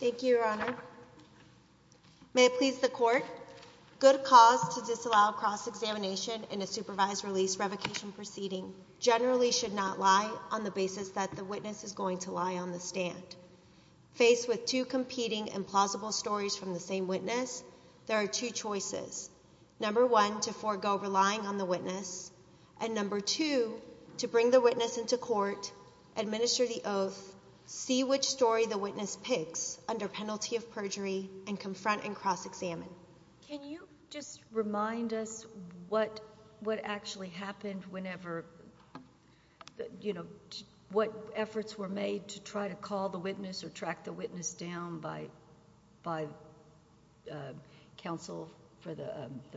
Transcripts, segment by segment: Thank you, your honor. May it please the court, good cause to disallow cross-examination in a supervised release revocation proceeding generally should not lie on the basis that the witness is going to lie on the stand. Faced with two competing and plausible stories from the same witness, there are two choices. Number one, to forego relying on the witness, and number two, to bring the witness into court, administer the oath, see which story the witness picks under penalty of perjury, and confront and cross-examine. Can you just remind us what actually happened whenever, you know, what efforts were made to try to call the witness or track the witness down by counsel for the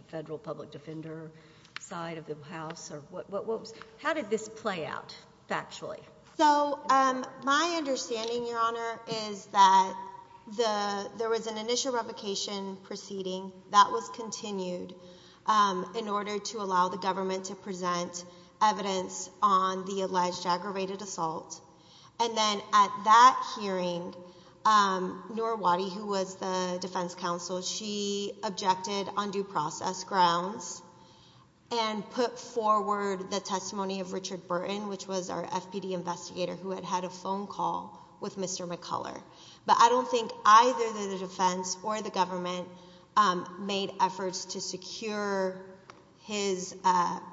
federal public defender side of the house, or what was, how did this play out factually? So, my understanding, your honor, is that the, there was an initial revocation proceeding that was continued in order to allow the government to present evidence on the alleged aggravated assault, and then at that hearing, Nora Waddy, who was the defense counsel, she objected on due process grounds, and put forward the testimony of Richard Burton, which was our FPD investigator who had had a phone call with Mr. McCuller. But I don't think either the defense or the government made efforts to secure his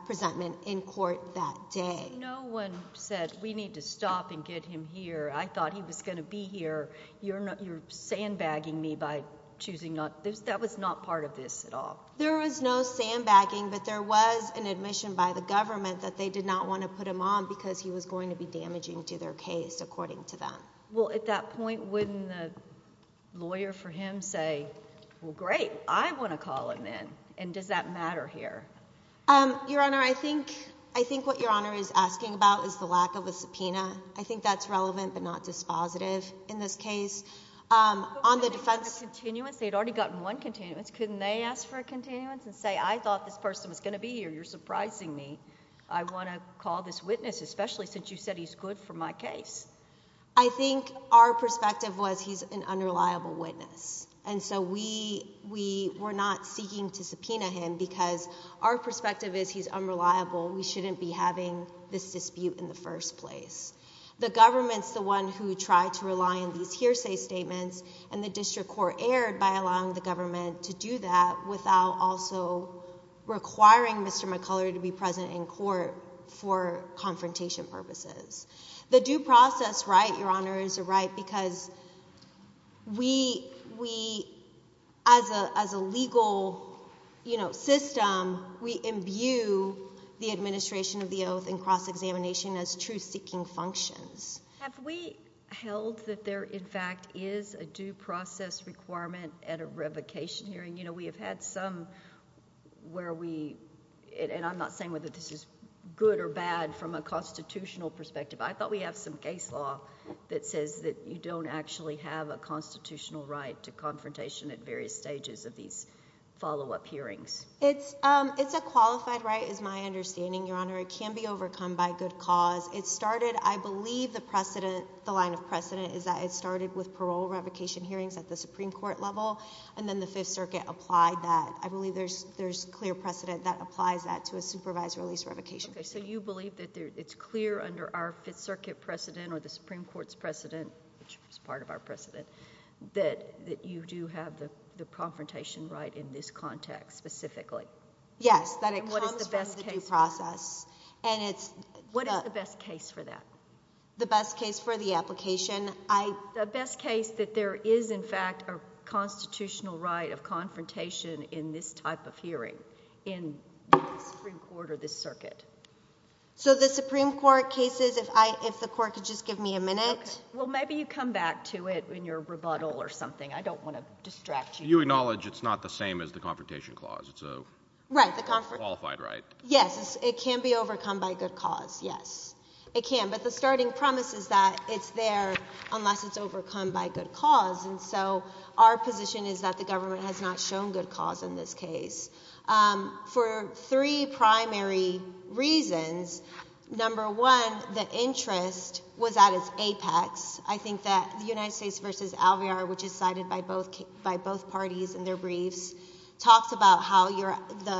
presentment in court that day. No one said, we need to stop and get him here. I thought he was going to be here. You're sandbagging me by choosing not, that was not part of this at all. There was no sandbagging, but there was an admission by the government that they did not want to put him on because he was going to be damaging to their case, according to them. Well, at that point, wouldn't the lawyer for him say, well, great, I want to call him in, and does that matter here? Your honor, I think, I think what your honor is asking about is the lack of a subpoena. I think that's relevant, but not dispositive in this case. On the defense... But wouldn't they have a continuance? They'd already gotten one continuance. Couldn't they ask for a continuance and say, I thought this person was going to be here. You're surprising me. I want to call this witness, especially since you said he's good for my case. I think our perspective was, he's an unreliable witness. And so we, we were not seeking to subpoena him because our perspective is, he's unreliable. We shouldn't be having this dispute in the first place. The government's the one who tried to rely on these hearsay statements, and the district court erred by allowing the government to do that without also requiring Mr. McCuller to be present in court for confrontation purposes. The due process, right, your honor, is a right because we, we, as a, as a legal, you know, institution, as truth-seeking functions. Have we held that there in fact is a due process requirement at a revocation hearing? You know, we have had some where we, and I'm not saying whether this is good or bad from a constitutional perspective. I thought we have some case law that says that you don't actually have a constitutional right to confrontation at various stages of these follow-up hearings. It's, it's a qualified right is my understanding, your honor. It can be overcome by good cause It started, I believe, the precedent, the line of precedent is that it started with parole revocation hearings at the Supreme Court level, and then the Fifth Circuit applied that. I believe there's, there's clear precedent that applies that to a supervised release revocation hearing. Okay, so you believe that there, it's clear under our Fifth Circuit precedent or the Supreme Court's precedent, which is part of our precedent, that, that you do have the, the confrontation right in this context specifically? Yes, that it comes from the due process. And what is the best case? What is the best case for that? The best case for the application? I... The best case that there is in fact a constitutional right of confrontation in this type of hearing in the Supreme Court or this circuit. So the Supreme Court cases, if I, if the court could just give me a minute. Okay. Well, maybe you come back to it in your rebuttal or something. I don't want to distract you. You acknowledge it's not the same as the confrontation clause. It's a... Right, the... Qualified right. Yes, it can be overcome by good cause. Yes, it can. But the starting promise is that it's there unless it's overcome by good cause. And so our position is that the government has not shown good cause in this case. For three primary reasons, number one, the interest was at its apex. I think that the United States versus Alvear, which is cited by both, by the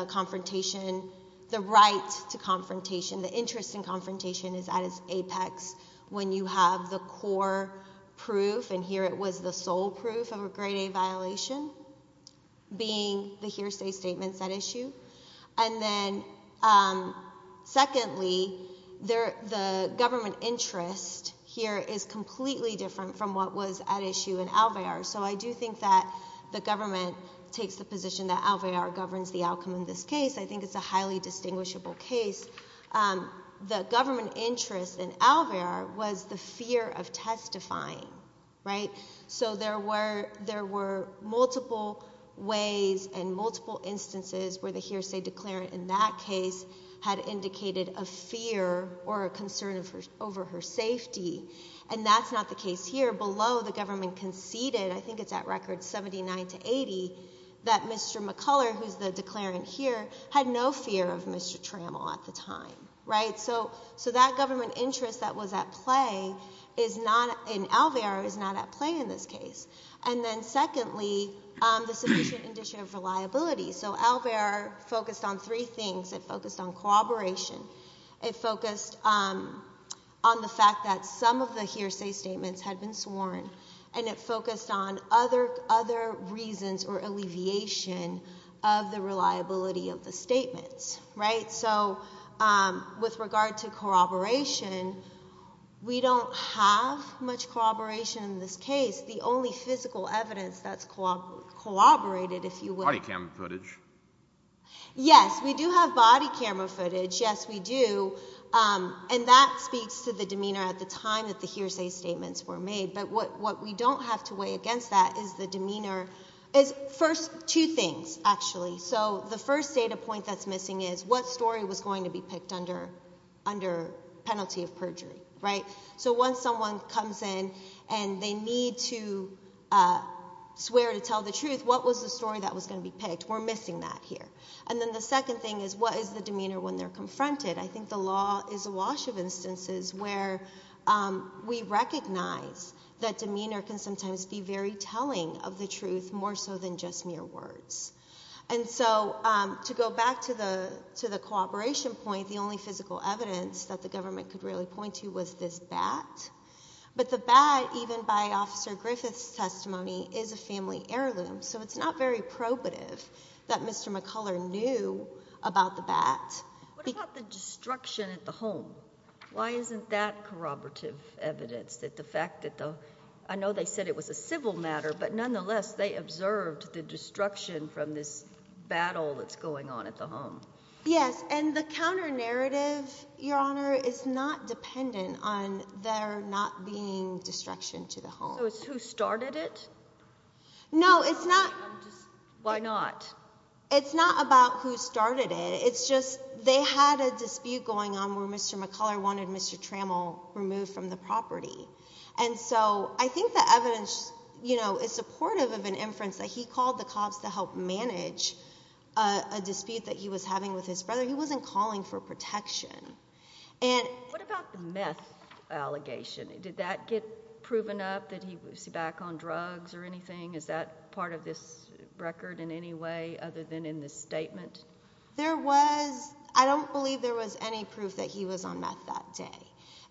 confrontation, the right to confrontation, the interest in confrontation is at its apex when you have the core proof and here it was the sole proof of a grade A violation being the hearsay statements at issue. And then secondly, the government interest here is completely different from what was at issue in Alvear. So I do think that the government takes the position that Alvear governs the outcome in this case. I think it's a highly distinguishable case. The government interest in Alvear was the fear of testifying, right? So there were multiple ways and multiple instances where the hearsay declarant in that case had indicated a fear or a concern over her safety. And that's not the case here. Below, the government conceded, I think it's at record 79 to 80, that Mr. McCuller, who's the declarant here, had no fear of Mr. Trammell at the time, right? So that government interest that was at play is not, in Alvear, is not at play in this case. And then secondly, the sufficient initiative for liability. So Alvear focused on three things. It focused on cooperation. It focused on the fact that some of the hearsay statements had been sworn. And it focused on other reasons or alleviation of the reliability of the statements, right? So with regard to corroboration, we don't have much corroboration in this case. The only physical evidence that's corroborated, if you will... Body camera footage. Yes, we do have body camera footage. Yes, we do. And that speaks to the demeanor at the time that the hearsay statements were made. But what we don't have to weigh against that is the demeanor. First, two things, actually. So the first data point that's missing is what story was going to be picked under penalty of perjury, right? So once someone comes in and they need to swear to tell the truth, what was the story that was going to be picked? We're missing that here. And then the second thing is, what is the demeanor when they're confronted? I think the law is awash of instances where we recognize that demeanor can sometimes be very telling of the truth, more so than just mere words. And so to go back to the cooperation point, the only physical evidence that the government could really point to was this bat. But the bat, even by Officer Griffith's testimony, is a family heirloom, so it's not very probative that Mr. McCuller knew about the bat. What about the destruction at the home? Why isn't that corroborative evidence that the fact that the... I know they said it was a civil matter, but nonetheless, they observed the destruction from this battle that's going on at the home. Yes, and the counter-narrative, Your Honor, is not dependent on there not being destruction to the home. So it's who started it? No, it's not. Why not? It's not about who started it. It's just they had a dispute going on where Mr. McCuller wanted Mr. Trammell removed from the property. And so I think the evidence is supportive of an inference that he called the cops to help manage a dispute that he was having with his brother. He wasn't calling for protection. What about the meth allegation? Did that get proven up that he was back on drugs or anything? Is that part of this record in any way other than in this statement? There was... I don't believe there was any proof that he was on meth that day.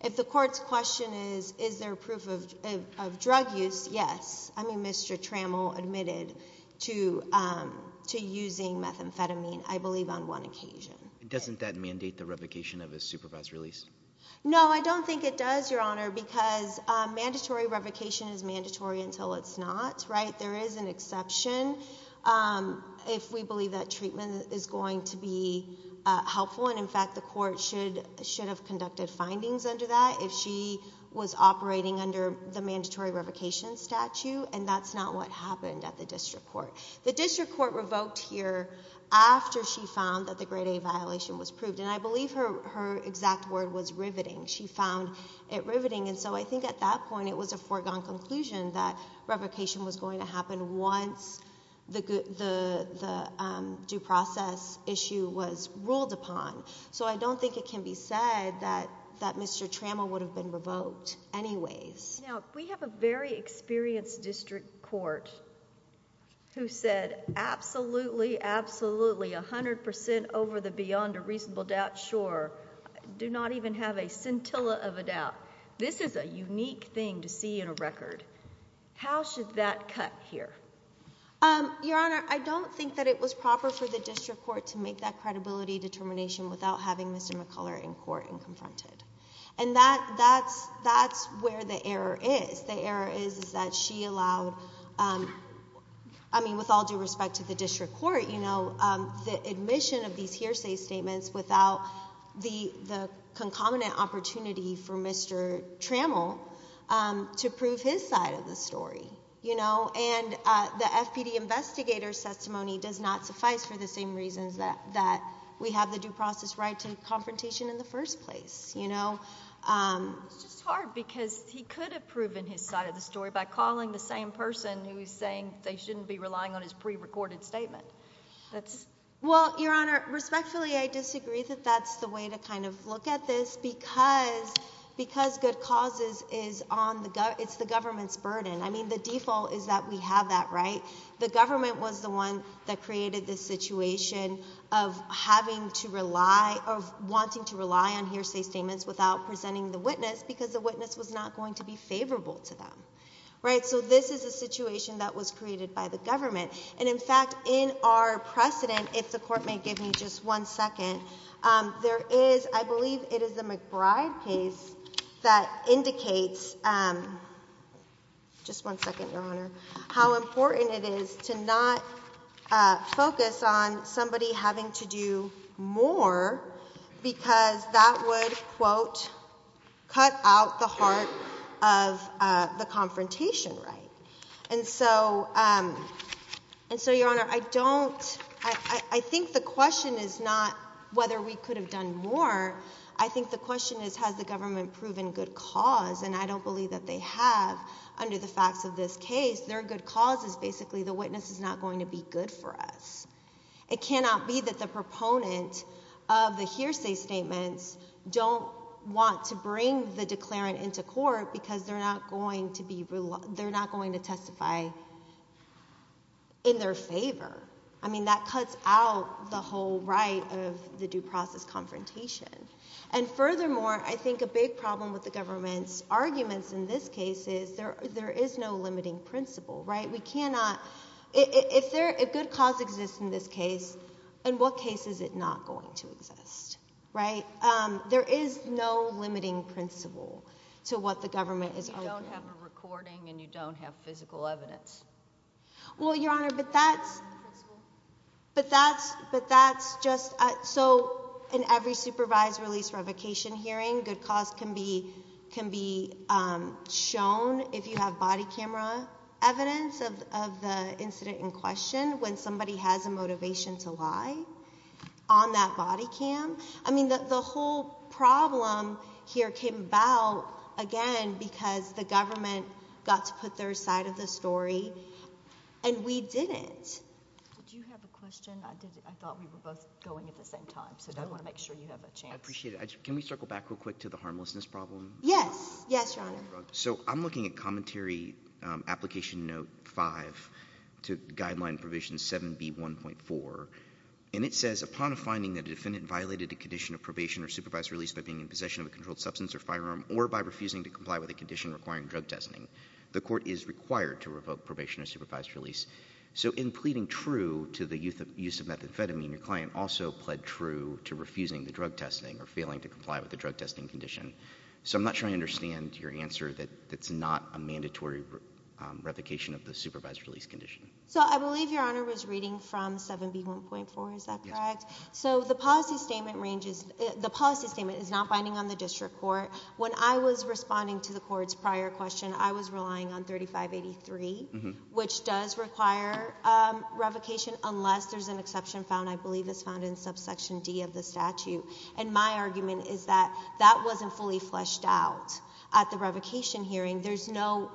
If the court's question is, is there proof of drug use, yes. I mean, Mr. Trammell admitted to using methamphetamine, I believe, on one occasion. Doesn't that mandate the revocation of his supervised release? No, I don't think it does, Your Honor, because mandatory revocation is mandatory until it's not, right? There is an exception if we believe that treatment is going to be helpful, and in fact the court should have conducted findings under that if she was operating under the mandatory revocation statute, and that's not what happened at the district court. The district court revoked here after she found that the grade A violation was proved, and I believe her exact word was riveting. She found it riveting, and so I think at that point it was a foregone conclusion that revocation was going to happen once the due process issue was ruled upon. So I don't think it can be said that Mr. Trammell would have been revoked anyways. Now, we have a very experienced district court who said absolutely, absolutely, a hundred percent over the beyond a reasonable doubt, sure, do not even have a scintilla of a doubt. This is a unique thing to see in a record. How should that cut here? Your Honor, I don't think that it was proper for the district court to make that credibility determination without having Mr. McCuller in court and confronted, and that's where the error is. The error is that she allowed, I mean with all due respect to the district court, you know, the admission of these hearsay statements without the concomitant opportunity for Mr. Trammell to prove his side of the story, you know, and the FPD investigator's testimony does not suffice for the same reasons that we have the due process right to confrontation in the first place, you know. It's just hard because he could have proven his side of the story by calling the same person who's saying they shouldn't be relying on his pre-recorded statement. Well, Your Honor, respectfully I disagree that that's the way to kind of look at this because good causes is on the government's burden. I mean, the default is that we have that right. The government was the one that of having to rely, of wanting to rely on hearsay statements without presenting the witness because the witness was not going to be favorable to them, right? So this is a situation that was created by the government, and in fact, in our precedent, if the court may give me just one second, there is, I believe it is the McBride case that indicates, just one having to do more because that would, quote, cut out the heart of the confrontation right. And so, Your Honor, I don't, I think the question is not whether we could have done more. I think the question is has the government proven good cause, and I don't believe that they have under the facts of this case. Their good cause is basically the witness is not going to be good for us. It cannot be that the proponent of the hearsay statements don't want to bring the declarant into court because they're not going to be, they're not going to testify in their favor. I mean, that cuts out the whole right of the due process confrontation. And furthermore, I think a big problem with the government's arguments in this case is there is no limiting principle, right? We cannot, if good cause exists in this case, in what case is it not going to exist, right? There is no limiting principle to what the government is arguing. You don't have a recording and you don't have physical evidence. Well, Your Honor, but that's, but that's, but that's just, so in every supervised release revocation hearing, good cause can be, can be shown if you have body camera evidence of the incident in question, when somebody has a motivation to lie on that body cam. I mean, the whole problem here came about, again, because the government got to put their side of the story and we didn't. Do you have a question? I did. I thought we were both going at the same time, so I want to make sure you have a chance. I appreciate it. Can we circle back real quick to the harmlessness problem? Yes. Yes, Your Honor. So I'm looking at Commentary Application Note 5 to Guideline Provision 7B1.4, and it says upon a finding that a defendant violated a condition of probation or supervised release by being in possession of a controlled substance or firearm, or by refusing to comply with a condition requiring drug testing, the court is required to revoke probation or supervised release. So in pleading true to the use of methamphetamine, your client also pled true to refusing the drug testing or failing to comply with the drug testing condition. So I'm not sure I understand your answer that it's not a mandatory revocation of the supervised release condition. So I believe Your Honor was reading from 7B1.4, is that correct? Yes. So the policy statement is not binding on the district court. When I was responding to the court's prior question, I was relying on 3583, which does require revocation unless there's an exception found, I believe it's found in subsection D of the statute. And my argument is that that wasn't fully fleshed out. At the revocation hearing, there's no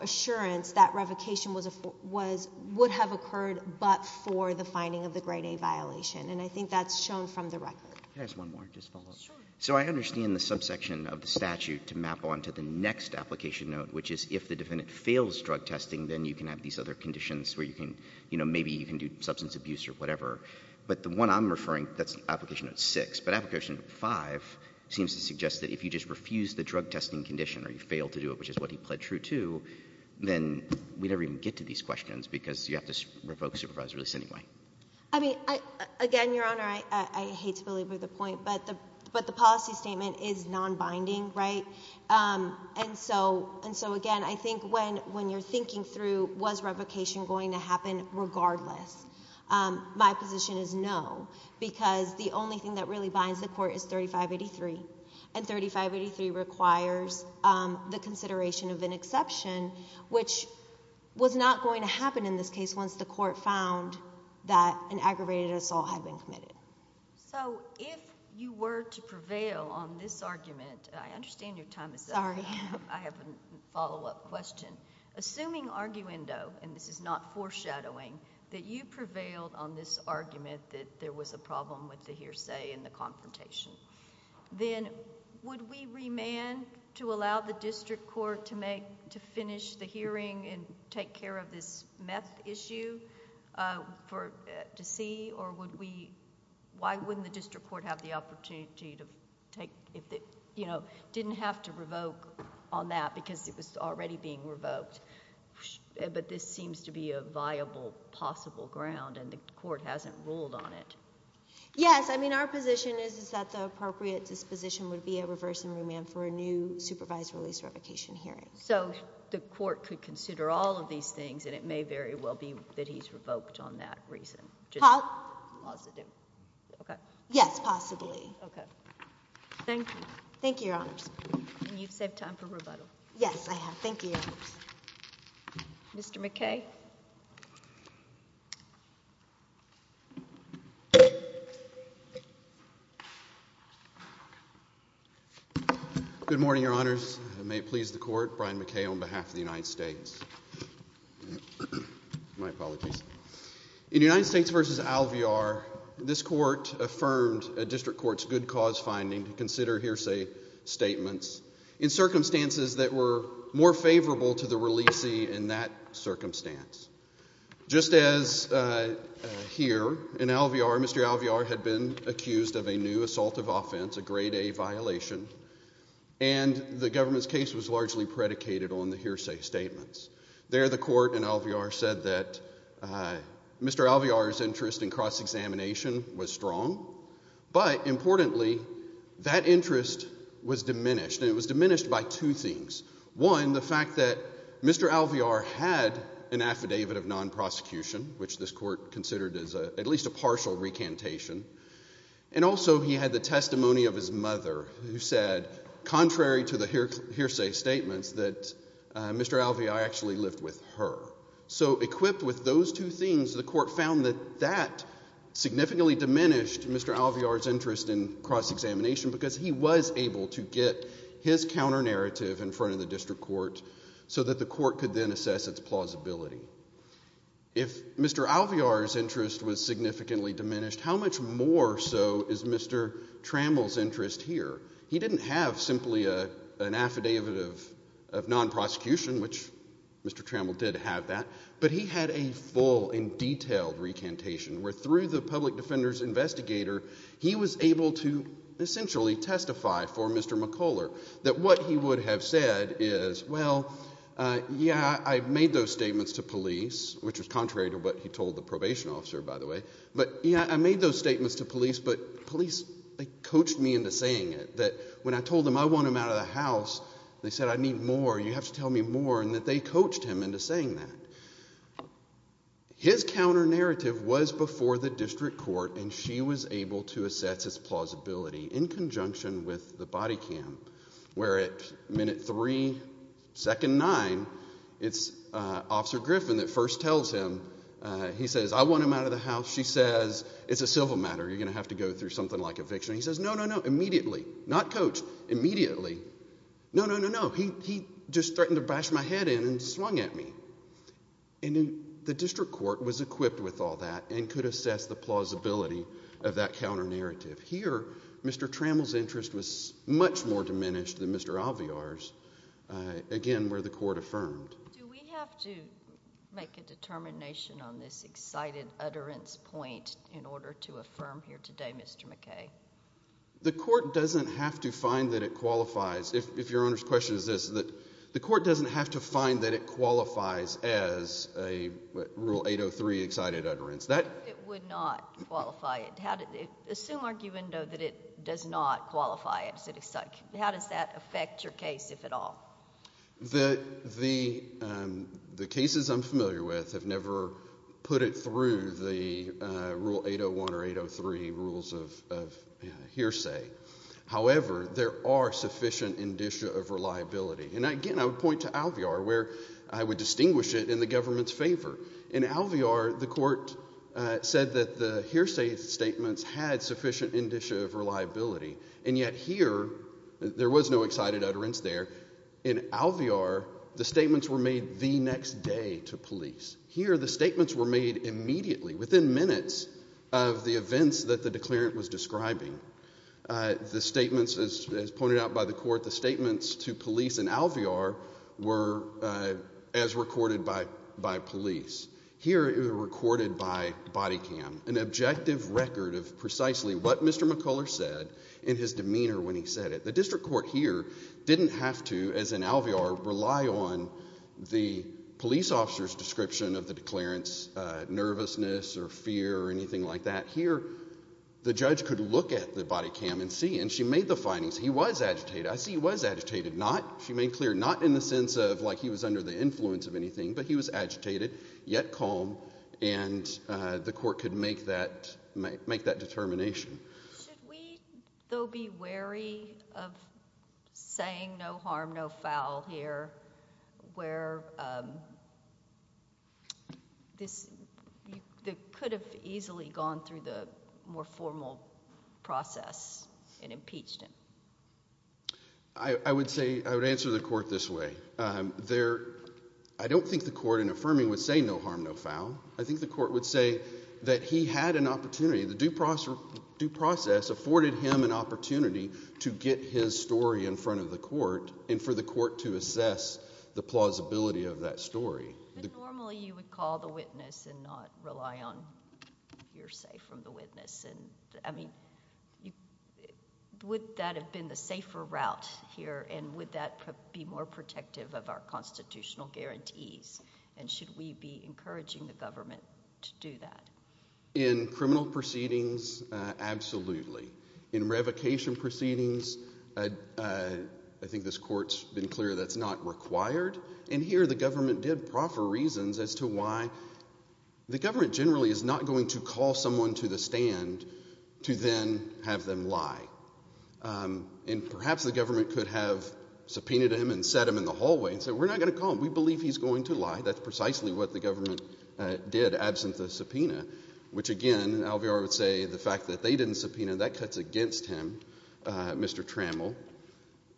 assurance that revocation would have occurred but for the finding of the grade A violation. And I think that's shown from the record. Can I ask one more? Just follow up. Sure. So I understand the subsection of the statute to map onto the next application note, which is if the defendant fails drug testing, then you can have these other conditions where you can, you know, maybe you can do substance abuse or whatever. But the one I'm referring, that's application note 6, but application note 5 seems to suggest that if you just refuse the drug testing condition or you fail to do it, which is what he pled true to, then we'd never even get to these questions because you have to revoke supervisory release anyway. I mean, again, Your Honor, I hate to belabor the point, but the policy statement is non-binding, right? And so, again, I think when you're thinking through was revocation going to happen regardless, my position is no, because the only thing that really binds the court is 3583. And 3583 requires the consideration of an exception, which was not going to happen in this case once the court found that an aggravated assault had been committed. So if you were to prevail on this argument, and I understand your time is up, I have a follow-up question. Assuming, arguendo, and this is not foreshadowing, that you prevailed on this argument that there was a problem with the hearsay and the confrontation, then would we remand to allow the district court to make, to finish the hearing and take care of this meth issue to see, or would we, why wouldn't the district court have the opportunity to take, you know, didn't have to revoke on that because it was already being revoked, but this seems to be a viable, possible ground and the court hasn't ruled on it? Yes. I mean, our position is that the appropriate disposition would be a reverse and remand for a new supervised release revocation hearing. So the court could consider all of these things and it may very well be that he's revoked on that reason. Positive. Okay. Yes, possibly. Okay. Thank you. Thank you, Your Honors. And you've saved time for rebuttal. Yes, I have. Thank you, Your Honors. Mr. McKay. Good morning, Your Honors. May it please the court. Brian McKay on behalf of the United States. My apologies. In United States v. Alvear, this court affirmed a district court's good cause finding to consider hearsay statements. In circumstances that were more favorable to the releasee in that circumstance. Just as here in Alvear, Mr. Alvear had been accused of a new assault of offense, a grade A violation, and the government's case was largely predicated on the hearsay statements. There the court in Alvear said that Mr. Alvear's interest in cross-examination was strong, but importantly, that interest was diminished, and it was diminished by two things. One, the fact that Mr. Alvear had an affidavit of non-prosecution, which this court considered as at least a partial recantation, and also he had the testimony of his mother, who said contrary to the hearsay statements that Mr. Alvear actually lived with her. So equipped with those two things, the court found that that significantly diminished Mr. Alvear's interest in cross-examination because he was able to get his counter-narrative in front of the district court so that the court could then assess its plausibility. If Mr. Alvear's interest was significantly diminished, how much more so is Mr. Trammell's interest here? He didn't have simply an affidavit of non-prosecution, which Mr. Trammell did have that, but he had a full and detailed recantation where through the public defender's investigator, he was able to essentially testify for Mr. McCuller that what he would have said is, well, yeah, I made those statements to police, which was contrary to what he told the probation officer, by the way, but yeah, I made those statements to police, but police coached me into saying it, that when I told them I want him out of the house, they said I need more, you have to tell me more, and that they coached him into saying that. His counter-narrative was before the district court, and she was able to assess its plausibility in conjunction with the body cam, where at minute three, second nine, it's Officer Griffin that first tells him, he says, I want him out of the house. She says, it's a civil matter, you're going to have to go through something like eviction. He says, no, no, no, immediately, not coach, immediately, no, no, no, no, he just threatened to bash my head in and swung at me. The district court was equipped with all that and could assess the plausibility of that counter-narrative. Here, Mr. Trammell's interest was much more diminished than Mr. Aviar's, again, where the court affirmed. Do we have to make a determination on this excited utterance point in order to affirm here today, Mr. McKay? The court doesn't have to find that it qualifies. If your Honor's question is this, the court doesn't have to find that it qualifies as a Rule 803 excited utterance. It would not qualify it. Assume, arguendo, that it does not qualify it as an excited utterance. How does that affect your case, if at all? The cases I'm familiar with have never put it through the Rule 801 or 803 rules of hearsay. However, there are sufficient indicia of reliability, and, again, I would point to Aviar, where I would distinguish it in the government's favor. In Aviar, the court said that the hearsay statements had sufficient indicia of reliability, and yet here, there was no excited utterance there. In Aviar, the statements were made the next day to police. Here the statements were made immediately, within minutes of the events that the declarant was describing. The statements, as pointed out by the court, the statements to police in Aviar were as recorded by police. Here it was recorded by body cam, an objective record of precisely what Mr. McCuller said in his demeanor when he said it. The district court here didn't have to, as in Aviar, rely on the police officer's description of the declarant's nervousness or fear or anything like that. Here, the judge could look at the body cam and see, and she made the findings. He was agitated. I see he was agitated. Not, she made clear, not in the sense of, like, he was under the influence of anything, but he was agitated, yet calm, and the court could make that determination. Should we, though, be wary of saying no harm, no foul here, where this could have easily gone through the more formal process and impeached him? I would say, I would answer the court this way. I don't think the court, in affirming, would say no harm, no foul. I think the court would say that he had an opportunity. The due process afforded him an opportunity to get his story in front of the court and for the court to assess the plausibility of that story. Normally, you would call the witness and not rely on hearsay from the witness. I mean, would that have been the safer route here, and would that be more protective of our constitutional guarantees, and should we be encouraging the government to do that? In criminal proceedings, absolutely. In revocation proceedings, I think this court's been clear that's not required, and here the government did proffer reasons as to why the government generally is not going to call someone to the stand to then have them lie, and perhaps the government could have subpoenaed him and sat him in the hallway and said, we're not going to call him, we believe he's going to lie. That's precisely what the government did, absent the subpoena, which again, Alvear would say the fact that they didn't subpoena, that cuts against him, Mr. Trammell,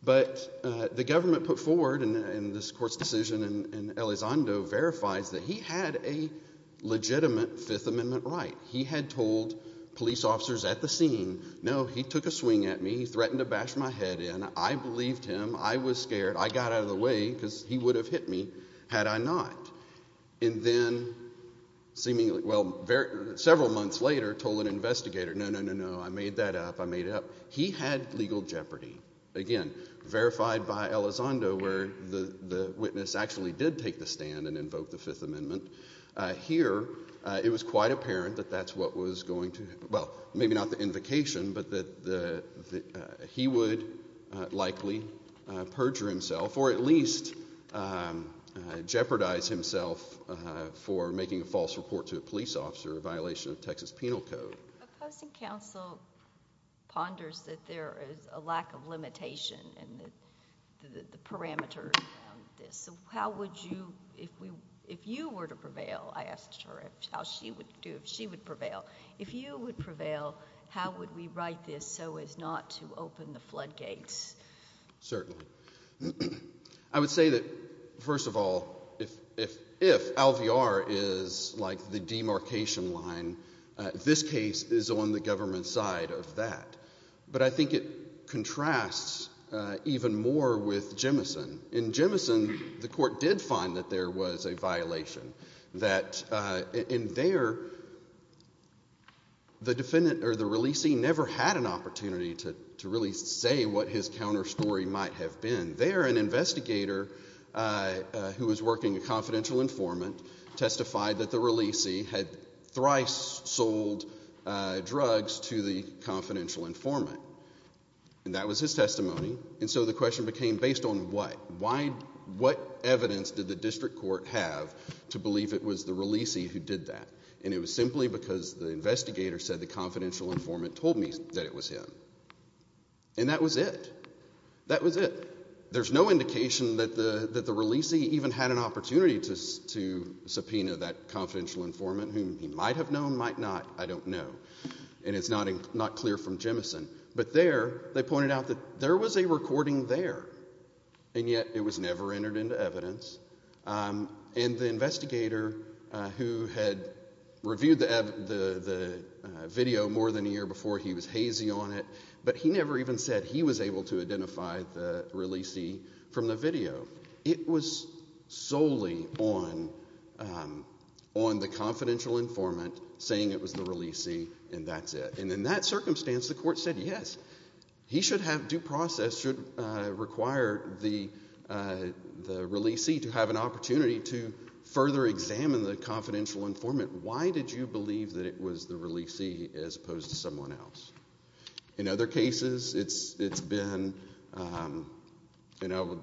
but the government put forward in this court's decision in Elizondo verifies that he had a legitimate Fifth Amendment right. He had told police officers at the scene, no, he took a swing at me, he threatened to bash my head in, I believed him, I was scared, I got out of the way because he would have hit me had I not, and then several months later told an investigator, no, no, no, I made that up, I made it up. He had legal jeopardy, again, verified by Elizondo where the witness actually did take the stand and invoke the Fifth Amendment. Here it was quite apparent that that's what was going to, well, maybe not the invocation, but that he would likely perjure himself or at least jeopardize himself for making a false report to a police officer, a violation of Texas penal code. A posting counsel ponders that there is a lack of limitation in the parameters of this. How would you, if you were to prevail, I asked her how she would do, if she would prevail, if you would prevail, how would we write this so as not to open the floodgates? Certainly. I would say that, first of all, if Alvear is like the demarcation line, this case is on the government side of that. But I think it contrasts even more with Jemison. In Jemison, the court did find that there was a violation, that in there, the defendant or the releasee never had an opportunity to really say what his counter story might have been. There, an investigator who was working a confidential informant testified that the releasee had thrice sold drugs to the confidential informant. That was his testimony. And so the question became, based on what? What evidence did the district court have to believe it was the releasee who did that? And it was simply because the investigator said the confidential informant told me that it was him. And that was it. That was it. There's no indication that the releasee even had an opportunity to subpoena that confidential informant whom he might have known, might not, I don't know. And it's not clear from Jemison. But there, they pointed out that there was a recording there, and yet it was never entered into evidence. And the investigator who had reviewed the video more than a year before, he was hazy on it, but he never even said he was able to identify the releasee from the video. It was solely on the confidential informant saying it was the releasee, and that's it. And in that circumstance, the court said, yes, he should have, due process should require the releasee to have an opportunity to further examine the confidential informant. Why did you believe that it was the releasee as opposed to someone else? In other cases, it's been, you know,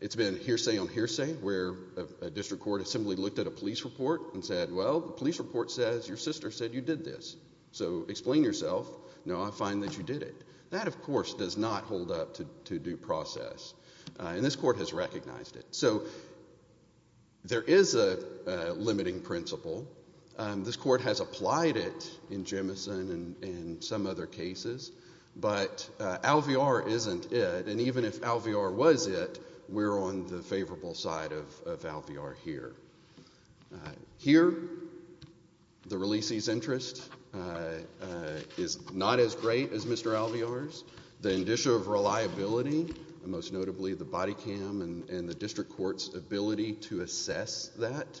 it's been hearsay on hearsay where a district court assembly looked at a police report and said, well, the police report says your sister said you did this. So explain yourself. No, I find that you did it. That, of course, does not hold up to due process, and this court has recognized it. So there is a limiting principle. This court has applied it in Jemison and some other cases, but Alvear isn't it, and even if Alvear was it, we're on the favorable side of Alvear here. Here, the releasee's interest is not as great as Mr. Alvear's. The indicia of reliability, and most notably the body cam and the district court's ability to assess that,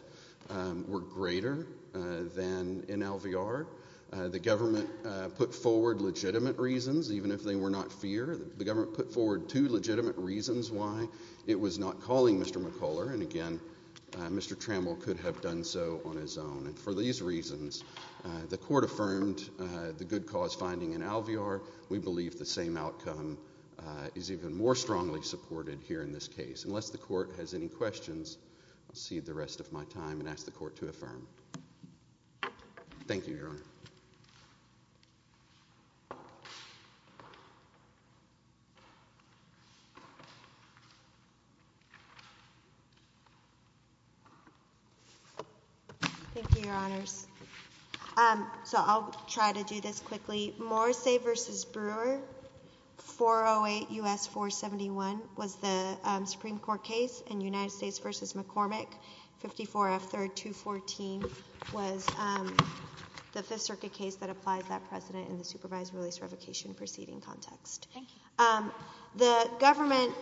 were greater than in Alvear. The government put forward legitimate reasons, even if they were not fear. The government put forward two legitimate reasons why it was not calling Mr. McCuller, and again, Mr. Trammell could have done so on his own, and for these reasons, the court affirmed the good cause finding in Alvear. We believe the same outcome is even more strongly supported here in this case. Unless the court has any questions, I'll cede the rest of my time and ask the court to affirm. Thank you, Your Honor. Thank you, Your Honors. So I'll try to do this quickly. Morrissey v. Brewer, 408 U.S. 471, was the Supreme Court case, and United States v. McCormick, 54 F. 3rd 214, was the Fifth Circuit case that applies that precedent in the supervised release revocation proceeding context. The government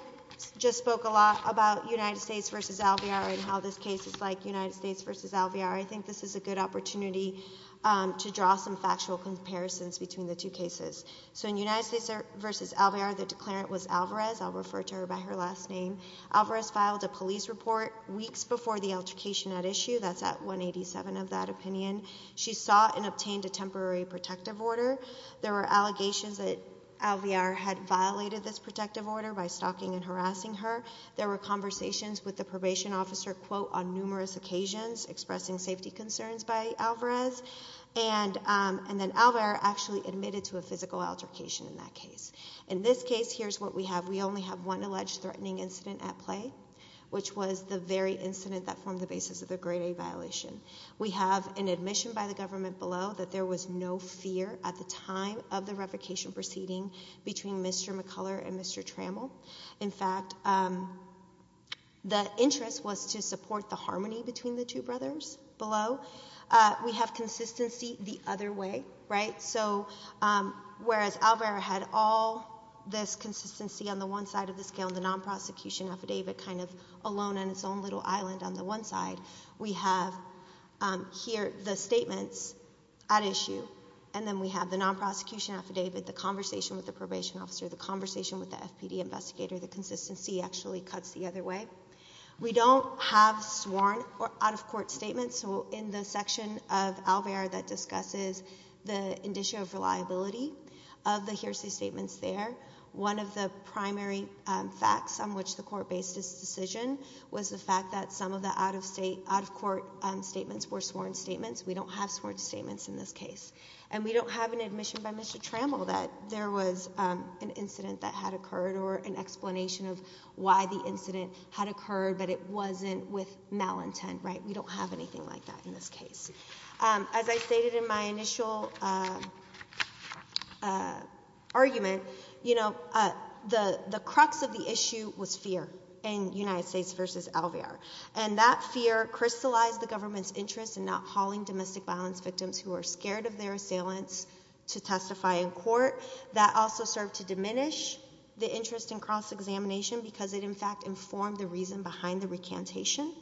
just spoke a lot about United States v. Alvear and how this case is like United States v. Alvear. I think this is a good opportunity to draw some factual comparisons between the two cases. So in United States v. Alvear, the declarant was Alvarez, I'll refer to her by her last name. Alvarez filed a police report weeks before the altercation at issue, that's at 187 of that opinion. She sought and obtained a temporary protective order. There were allegations that Alvear had violated this protective order by stalking and harassing her. There were conversations with the probation officer, quote, on numerous occasions expressing safety concerns by Alvarez. And then Alvear actually admitted to a physical altercation in that case. In this case, here's what we have. We only have one alleged threatening incident at play, which was the very incident that formed the basis of the grade A violation. We have an admission by the government below that there was no fear at the time of the revocation proceeding between Mr. McCuller and Mr. Trammell. In fact, the interest was to support the harmony between the two brothers below. We have consistency the other way, right? So whereas Alvear had all this consistency on the one side of the scale, the non-prosecution affidavit kind of alone on its own little island on the one side, we have here the statements at issue, and then we have the non-prosecution affidavit, the conversation with the probation officer, the conversation with the FPD investigator, the consistency actually cuts the other way. We don't have sworn or out-of-court statements. So in the section of Alvear that discusses the indicia of reliability of the hearsay statements there, one of the primary facts on which the court based its decision was the fact that some of the out-of-court statements were sworn statements. We don't have sworn statements in this case. And we don't have an admission by Mr. Trammell that there was an incident that had occurred or an explanation of why the incident had occurred, but it wasn't with malintent, right? We don't have anything like that in this case. As I stated in my initial argument, you know, the crux of the issue was fear in United States versus Alvear, and that fear crystallized the government's interest in not hauling domestic violence victims who are scared of their assailants to testify in court. That also served to diminish the interest in cross-examination because it in fact informed the reason behind the recantation.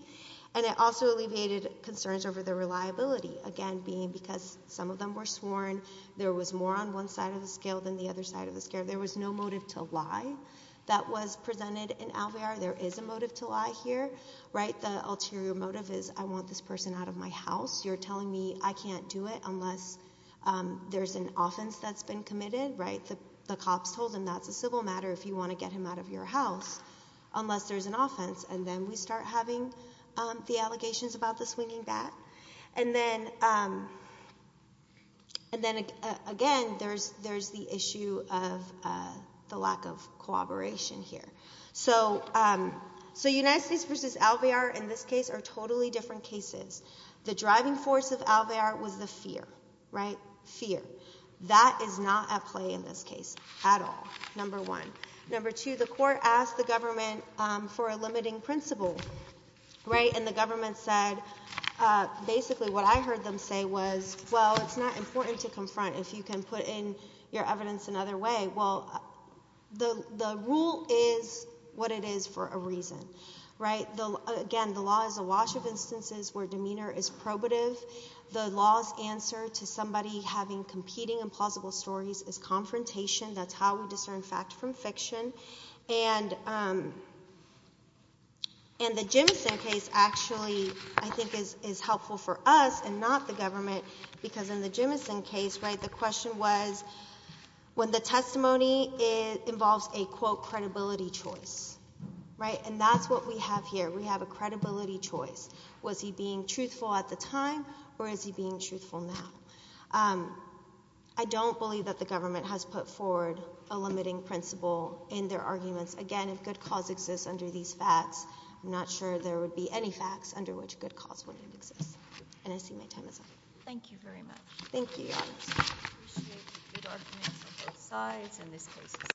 And it also alleviated concerns over the reliability, again, being because some of them were sworn, there was more on one side of the scale than the other side of the scale. There was no motive to lie that was presented in Alvear. There is a motive to lie here, right? The ulterior motive is I want this person out of my house. You're telling me I can't do it unless there's an offense that's been committed, right? The cops told him that's a civil matter if you want to get him out of your house unless there's an offense. And then we start having the allegations about the swinging bat. And then again, there's the issue of the lack of cooperation here. So United States versus Alvear in this case are totally different cases. The driving force of Alvear was the fear, right, fear. That is not at play in this case at all, number one. Number two, the court asked the government for a limiting principle, right? And the government said, basically what I heard them say was, well, it's not important to confront if you can put in your evidence another way. Well, the rule is what it is for a reason, right? Again, the law is a wash of instances where demeanor is probative. The law's answer to somebody having competing and plausible stories is confrontation. That's how we discern fact from fiction. And the Jimison case actually, I think, is helpful for us and not the government because in the Jimison case, right, the question was when the testimony involves a, quote, credibility choice, right, and that's what we have here. We have a credibility choice. Was he being truthful at the time or is he being truthful now? I don't believe that the government has put forward a limiting principle in their arguments. Again, if good cause exists under these facts, I'm not sure there would be any facts under which good cause wouldn't exist. And I see my time is up. Thank you very much. Thank you, Your Honor.